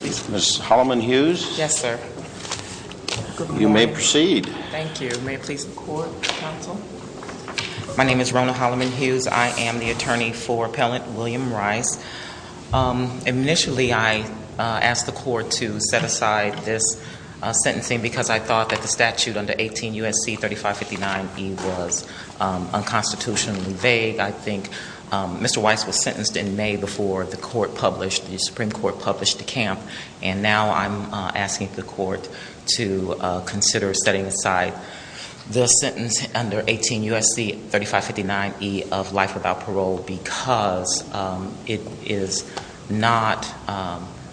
Ms. Holliman-Hughes? Yes, sir. Good morning. You may proceed. Thank you. May it please the court, counsel. My name is Rona Holliman-Hughes. I am the attorney for appellant William Weiss. Initially, I asked the court to set aside this sentencing because I thought that the statute under 18 U.S.C. 3559E was unconstitutionally vague. I think Mr. Weiss was sentenced in May before the Supreme Court published the camp, and now I'm asking the court to consider setting aside the sentence under 18 U.S.C. 3559E of life without parole because it is not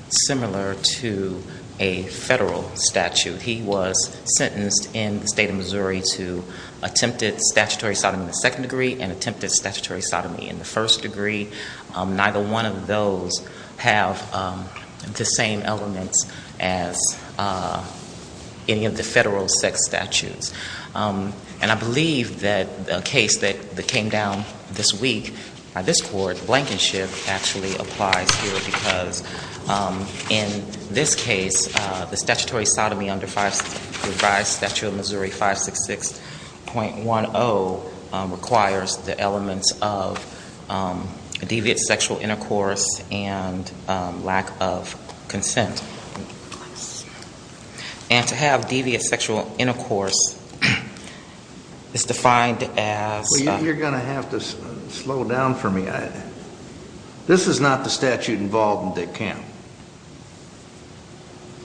similar to a federal statute. He was sentenced in the state of Missouri to attempted statutory sodomy in the second degree and attempted statutory sodomy in the first degree. Neither one of those have the same elements as any of the federal sex statutes. And I believe that a case that came down this week by this court, Blankenship, actually applies here because in this case, the statutory sodomy under revised statute of Missouri 566.10 requires the elements of deviant sexual intercourse and lack of consent. And to have deviant sexual intercourse is defined as – Well, you're going to have to slow down for me. This is not the statute involved in the camp.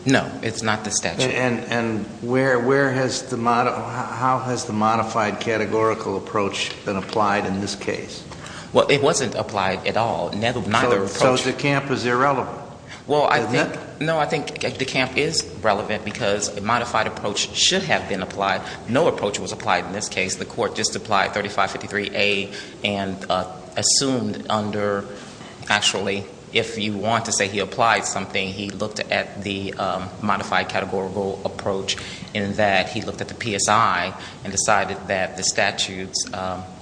No, it's not the statute. And where has the – how has the modified categorical approach been applied in this case? Well, it wasn't applied at all. So the camp is irrelevant. Well, I think – no, I think the camp is relevant because a modified approach should have been applied. No approach was applied in this case. The court just applied 3553A and assumed under – actually, if you want to say he applied something, he looked at the modified categorical approach in that he looked at the PSI and decided that the statutes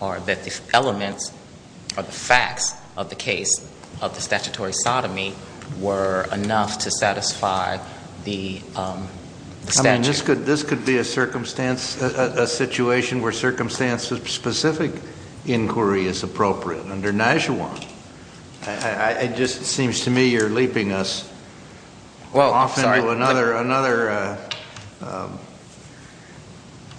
or that the elements or the facts of the case of the statutory sodomy were enough to satisfy the statute. And this could be a circumstance – a situation where circumstance-specific inquiry is appropriate. Under Nashua, it just seems to me you're leaping us off into another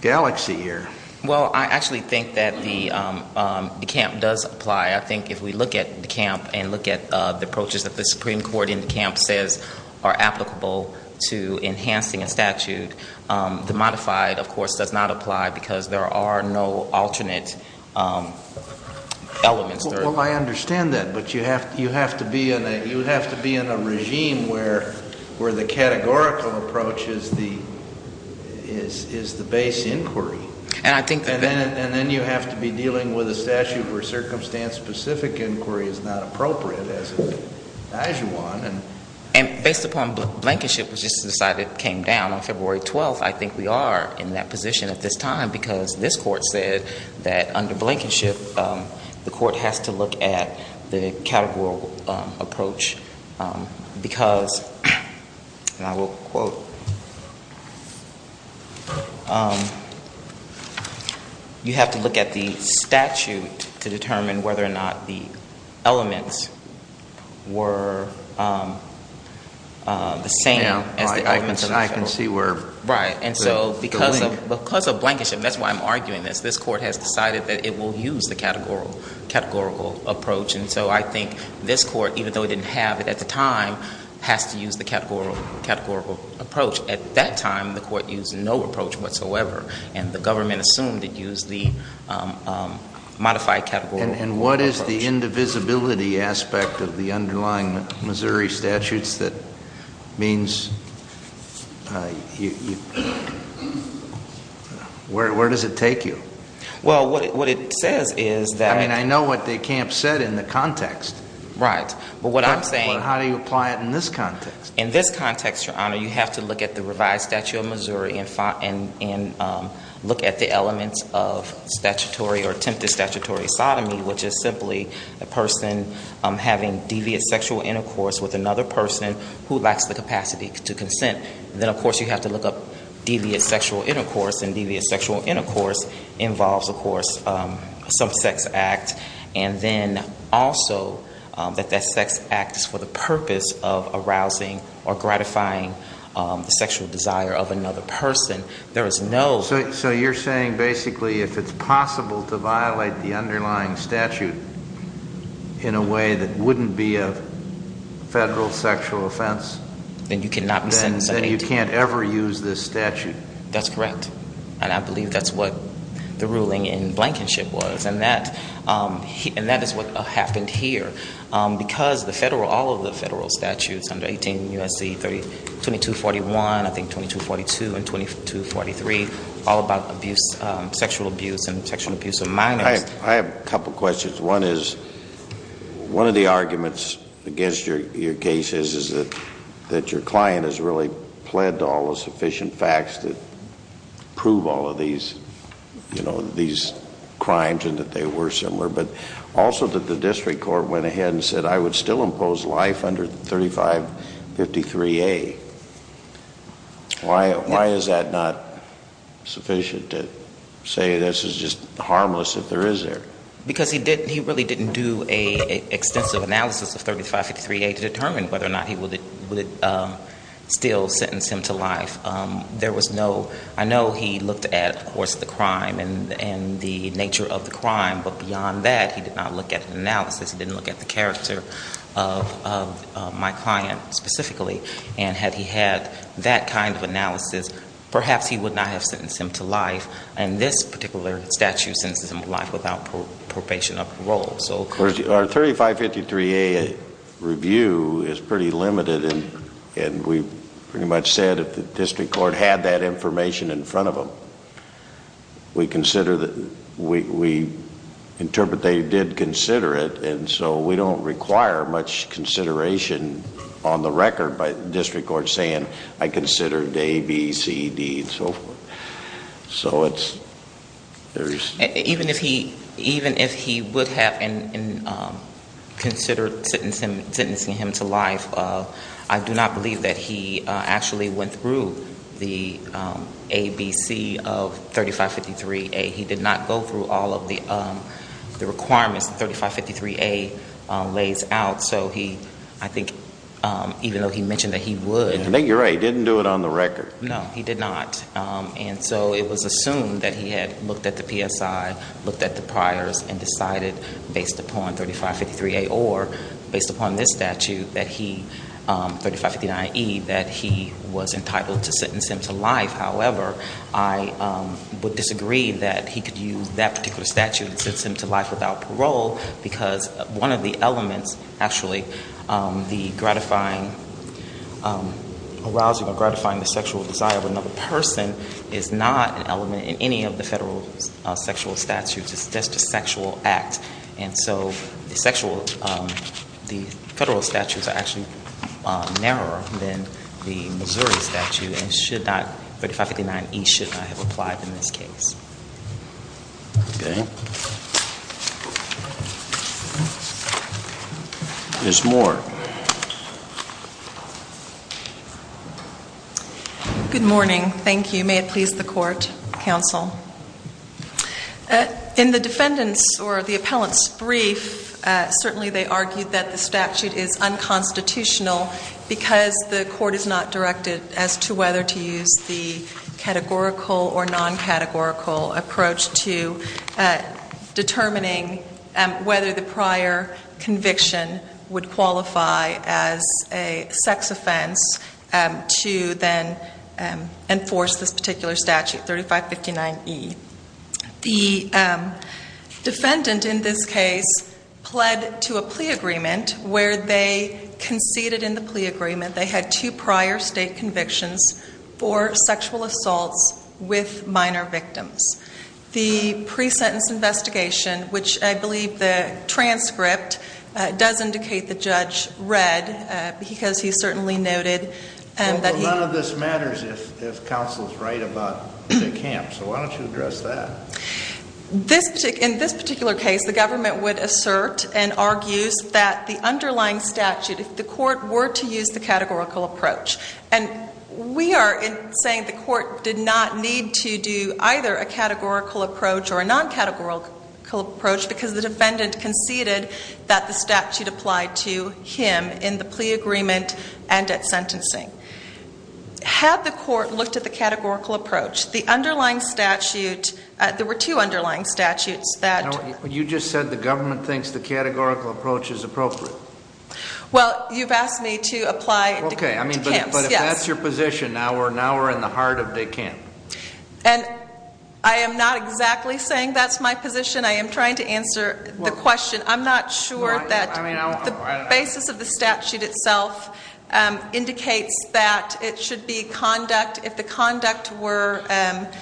galaxy here. Well, I actually think that the camp does apply. I think if we look at the camp and look at the approaches that the Supreme Court in the camp says are applicable to enhancing a statute, the modified, of course, does not apply because there are no alternate elements. Well, I understand that, but you have to be in a regime where the categorical approach is the base inquiry. And then you have to be dealing with a statute where circumstance-specific inquiry is not appropriate as in Nashua. And based upon Blankenship, which just decided it came down on February 12th, I think we are in that position at this time because this Court said that under Blankenship, the Court has to look at the categorical approach because, and I will quote, you have to look at the statute to determine whether or not the elements were the same as the elements of the statute. Now I can see where the link – And so I think this Court, even though it didn't have it at the time, has to use the categorical approach. At that time, the Court used no approach whatsoever, and the government assumed it used the modified categorical approach. And what is the indivisibility aspect of the underlying Missouri statutes that means – where does it take you? Well, what it says is that – I mean, I know what the camp said in the context. Right. But what I'm saying – But how do you apply it in this context? In this context, Your Honor, you have to look at the revised statute of Missouri and look at the elements of statutory or attempted statutory sodomy, which is simply a person having deviant sexual intercourse with another person who lacks the capacity to consent. Then, of course, you have to look up deviant sexual intercourse, and deviant sexual intercourse involves, of course, some sex act. And then also that that sex act is for the purpose of arousing or gratifying the sexual desire of another person. There is no – So you're saying basically if it's possible to violate the underlying statute in a way that wouldn't be a Federal sexual offense – Then you can't ever use this statute? That's correct. And I believe that's what the ruling in Blankenship was, and that is what happened here. Because the Federal – all of the Federal statutes under 18 U.S.C. 2241, I think 2242 and 2243, all about abuse – sexual abuse and sexual abuse of minors. I have a couple questions. One is, one of the arguments against your case is that your client has really pled to all the sufficient facts that prove all of these, you know, these crimes and that they were similar. But also that the district court went ahead and said, I would still impose life under 3553A. Why is that not sufficient to say this is just harmless if there is there? Because he really didn't do an extensive analysis of 3553A to determine whether or not he would still sentence him to life. There was no – I know he looked at, of course, the crime and the nature of the crime, but beyond that, he did not look at an analysis. He didn't look at the character of my client specifically. And had he had that kind of analysis, perhaps he would not have sentenced him to life. And this particular statute sentences him to life without probation or parole. Our 3553A review is pretty limited, and we pretty much said if the district court had that information in front of them, we consider that – we interpret they did consider it, and so we don't require much consideration on the record by the district court saying, I considered A, B, C, D, and so forth. So it's – there's – even if he would have considered sentencing him to life, I do not believe that he actually went through the A, B, C of 3553A. He did not go through all of the requirements that 3553A lays out. So he – I think even though he mentioned that he would – I think you're right. He didn't do it on the record. No, he did not. And so it was assumed that he had looked at the PSI, looked at the priors, and decided based upon 3553A or based upon this statute that he – 3559E – that he was entitled to sentence him to life. However, I would disagree that he could use that particular statute and sentence him to life without parole because one of the elements, actually, the gratifying – arousing or gratifying the sexual desire of another person is not an element in any of the federal sexual statutes. It's just a sexual act. And so the sexual – the federal statutes are actually narrower than the Missouri statute and should not – 3559E should not have applied in this case. Okay. Ms. Moore. Good morning. Thank you. May it please the Court, Counsel. In the defendant's or the appellant's brief, certainly they argued that the statute is unconstitutional because the court is not directed as to whether to use the categorical or non-categorical approach to determining whether the prior conviction would qualify as a sex offense to then enforce this particular statute, 3559E. The defendant in this case pled to a plea agreement where they conceded in the plea agreement they had two prior state convictions for sexual assaults with minor victims. The pre-sentence investigation, which I believe the transcript does indicate the judge read because he certainly noted that he – In this particular case, the government would assert and argues that the underlying statute, if the court were to use the categorical approach, and we are saying the court did not need to do either a categorical approach or a non-categorical approach because the defendant conceded that the statute applied to him in the plea agreement and at sentencing. Had the court looked at the categorical approach, the underlying statute – there were two underlying statutes that – You just said the government thinks the categorical approach is appropriate. Well, you've asked me to apply – Okay, but if that's your position, now we're in the heart of de camp. And I am not exactly saying that's my position. I am trying to answer the question. I'm not sure that the basis of the statute itself indicates that it should be conduct. If the conduct were –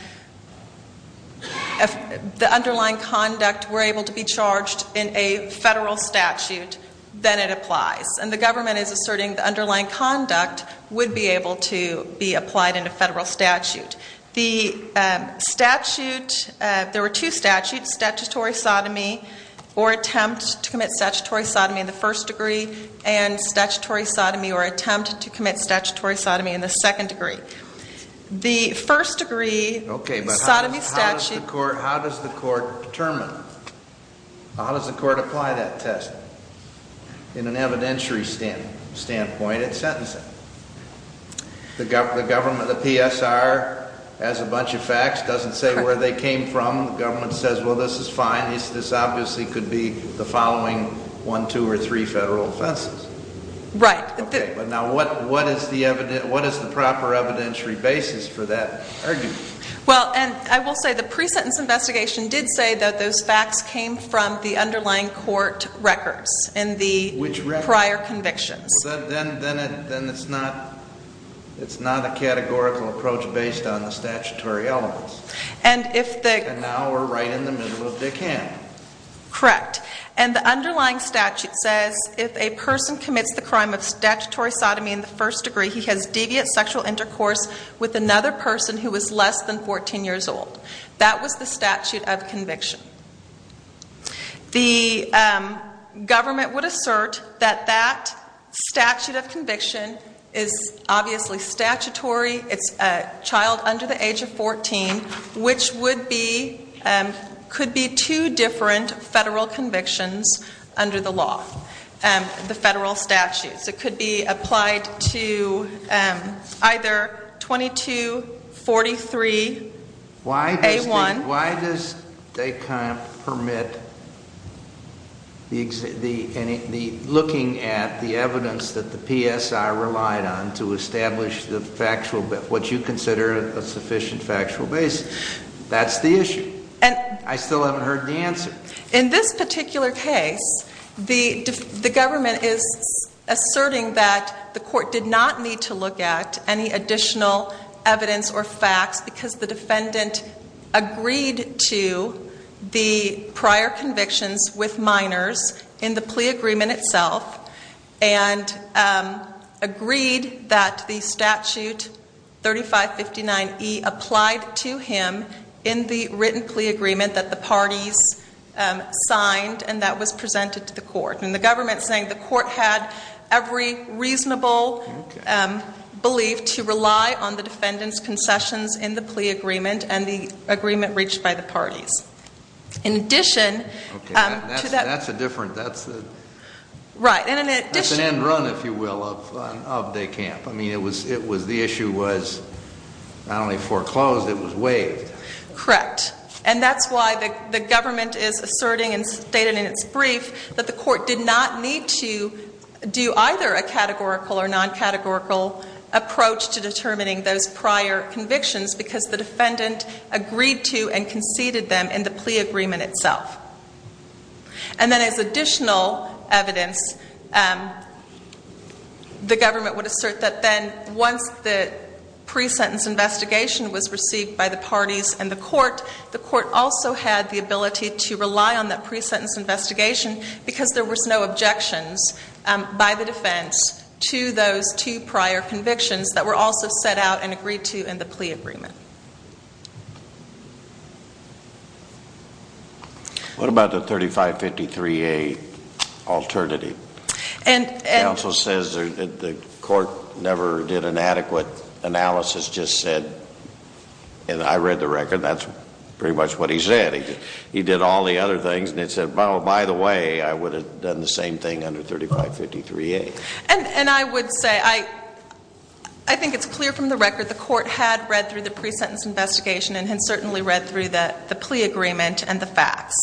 if the underlying conduct were able to be charged in a federal statute, then it applies. And the government is asserting the underlying conduct would be able to be applied in a federal statute. The statute – there were two statutes, statutory sodomy or attempt to commit statutory sodomy in the first degree and statutory sodomy or attempt to commit statutory sodomy in the second degree. The first degree – Okay, but how does the court determine – how does the court apply that test? In an evidentiary standpoint, it's sentencing. The government – the PSR has a bunch of facts, doesn't say where they came from. The government says, well, this is fine. This obviously could be the following one, two, or three federal offenses. Right. Okay, but now what is the – what is the proper evidentiary basis for that argument? Well, and I will say the pre-sentence investigation did say that those facts came from the underlying court records and the prior convictions. Then it's not – it's not a categorical approach based on the statutory elements. And if the – And now we're right in the middle of Dick Hamm. Correct. And the underlying statute says if a person commits the crime of statutory sodomy in the first degree, he has deviant sexual intercourse with another person who is less than 14 years old. That was the statute of conviction. The government would assert that that statute of conviction is obviously statutory. It's a child under the age of 14, which would be – could be two different federal convictions under the law, the federal statutes. It could be applied to either 2243A1. Why does Dick Hamm permit the – looking at the evidence that the PSI relied on to establish the factual – what you consider a sufficient factual basis? That's the issue. And – In this particular case, the government is asserting that the court did not need to look at any additional evidence or facts because the defendant agreed to the prior convictions with minors in the plea agreement itself. And agreed that the statute 3559E applied to him in the written plea agreement that the parties signed and that was presented to the court. And the government is saying the court had every reasonable belief to rely on the defendant's concessions in the plea agreement and the agreement reached by the parties. In addition – Okay, that's a different – that's a – Right, and in addition – That's an end run, if you will, of Dick Hamm. I mean, it was – the issue was not only foreclosed, it was waived. Correct. And that's why the government is asserting and stated in its brief that the court did not need to do either a categorical or non-categorical approach to determining those prior convictions because the defendant agreed to and conceded them in the plea agreement itself. And then as additional evidence, the government would assert that then once the pre-sentence investigation was received by the parties and the court, the court also had the ability to rely on that pre-sentence investigation because there was no objections by the defense to those two prior convictions that were also set out and agreed to in the plea agreement. What about the 3553A alternative? And – Counsel says that the court never did an adequate analysis, just said – and I read the record, that's pretty much what he said. He did all the other things and he said, oh, by the way, I would have done the same thing under 3553A. And I would say I think it's clear from the record the court had read through the pre-sentence investigation and had certainly read through the plea agreement and the facts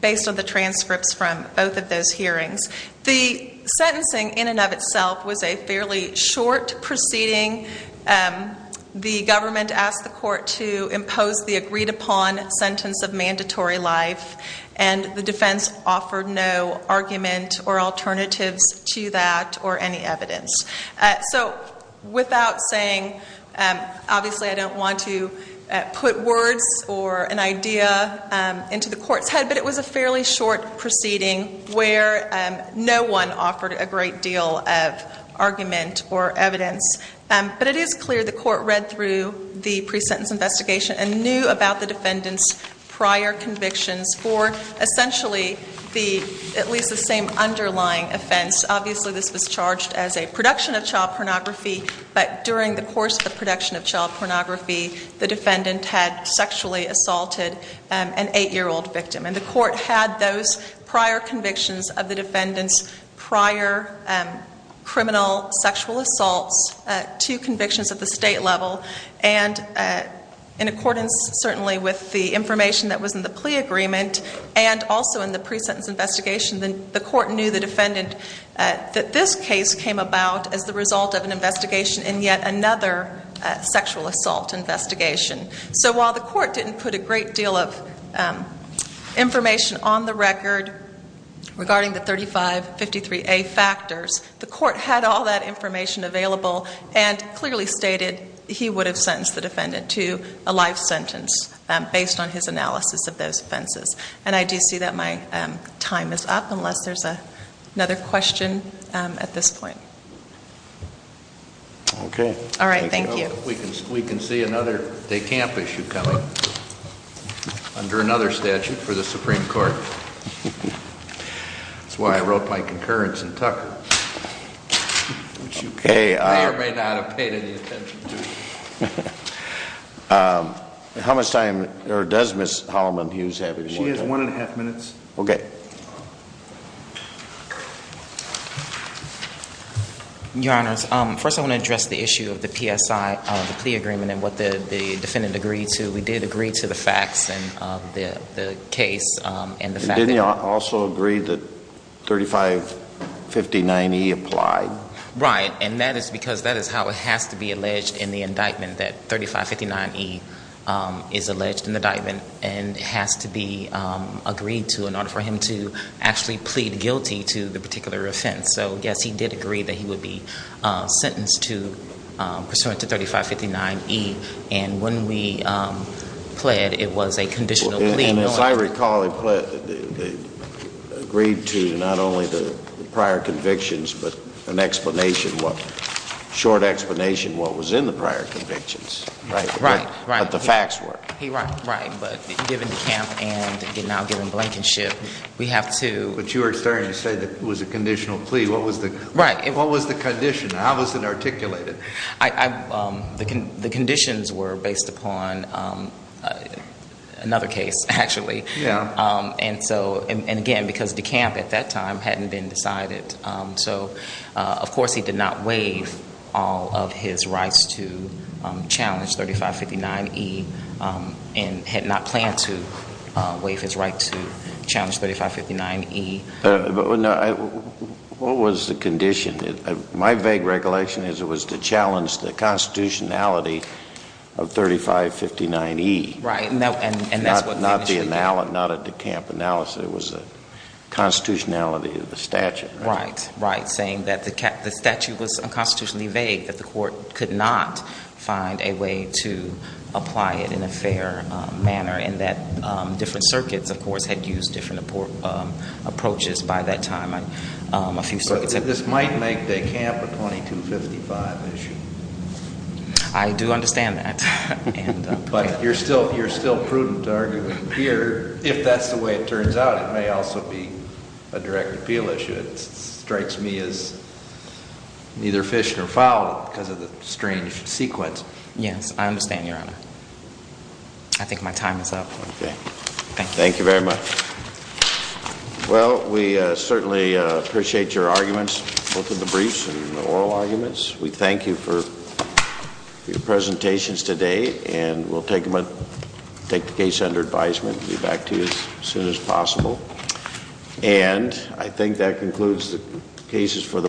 based on the transcripts from both of those hearings. The sentencing in and of itself was a fairly short proceeding. The government asked the court to impose the agreed-upon sentence of mandatory life and the defense offered no argument or alternatives to that or any evidence. So without saying, obviously I don't want to put words or an idea into the court's head, but it was a fairly short proceeding where no one offered a great deal of argument or evidence. But it is clear the court read through the pre-sentence investigation and knew about the defendant's prior convictions for essentially the – at least the same underlying offense. Obviously this was charged as a production of child pornography, but during the course of the production of child pornography, the defendant had sexually assaulted an eight-year-old victim. And the court had those prior convictions of the defendant's prior criminal sexual assaults, two convictions at the state level. And in accordance certainly with the information that was in the plea agreement and also in the pre-sentence investigation, the court knew the defendant that this case came about as the result of an investigation in yet another sexual assault investigation. So while the court didn't put a great deal of information on the record regarding the 3553A factors, the court had all that information available and clearly stated he would have sentenced the defendant to a life sentence based on his analysis of those offenses. And I do see that my time is up unless there's another question at this point. All right, thank you. We can see another de camp issue coming under another statute for the Supreme Court. That's why I wrote my concurrence in Tucker. Which you may or may not have paid any attention to. How much time – or does Ms. Holloman-Hughes have any more time? She has one and a half minutes. Okay. Your Honors, first I want to address the issue of the PSI of the plea agreement and what the defendant agreed to. We did agree to the facts and the case and the fact that – Didn't you also agree that 3559E applied? Right, and that is because that is how it has to be alleged in the indictment, that 3559E is alleged in the indictment and has to be agreed to in order for him to act. And actually plead guilty to the particular offense. So, yes, he did agree that he would be sentenced to – pursuant to 3559E. And when we pled, it was a conditional plea. And as I recall, he agreed to not only the prior convictions but an explanation, a short explanation of what was in the prior convictions. Right. But the facts were. Right. But given DeCamp and now given Blankenship, we have to – But you were starting to say that it was a conditional plea. What was the – Right. What was the condition? How was it articulated? The conditions were based upon another case, actually. Yeah. And so – and again, because DeCamp at that time hadn't been decided. So, of course, he did not waive all of his rights to challenge 3559E and had not planned to waive his right to challenge 3559E. What was the condition? My vague recollection is it was to challenge the constitutionality of 3559E. Right. And that's what finished the case. Not a DeCamp analysis. It was the constitutionality of the statute. Right. Right. Saying that the statute was unconstitutionally vague, that the court could not find a way to apply it in a fair manner, and that different circuits, of course, had used different approaches by that time. So this might make DeCamp a 2255 issue. I do understand that. But you're still prudent to argue here. If that's the way it turns out, it may also be a direct appeal issue. It strikes me as neither fish nor fowl because of the strange sequence. Yes, I understand, Your Honor. I think my time is up. Okay. Thank you. Thank you very much. Well, we certainly appreciate your arguments, both in the briefs and the oral arguments. We thank you for your presentations today, and we'll take the case under advisement and get back to you as soon as possible. And I think that concludes the cases for the morning.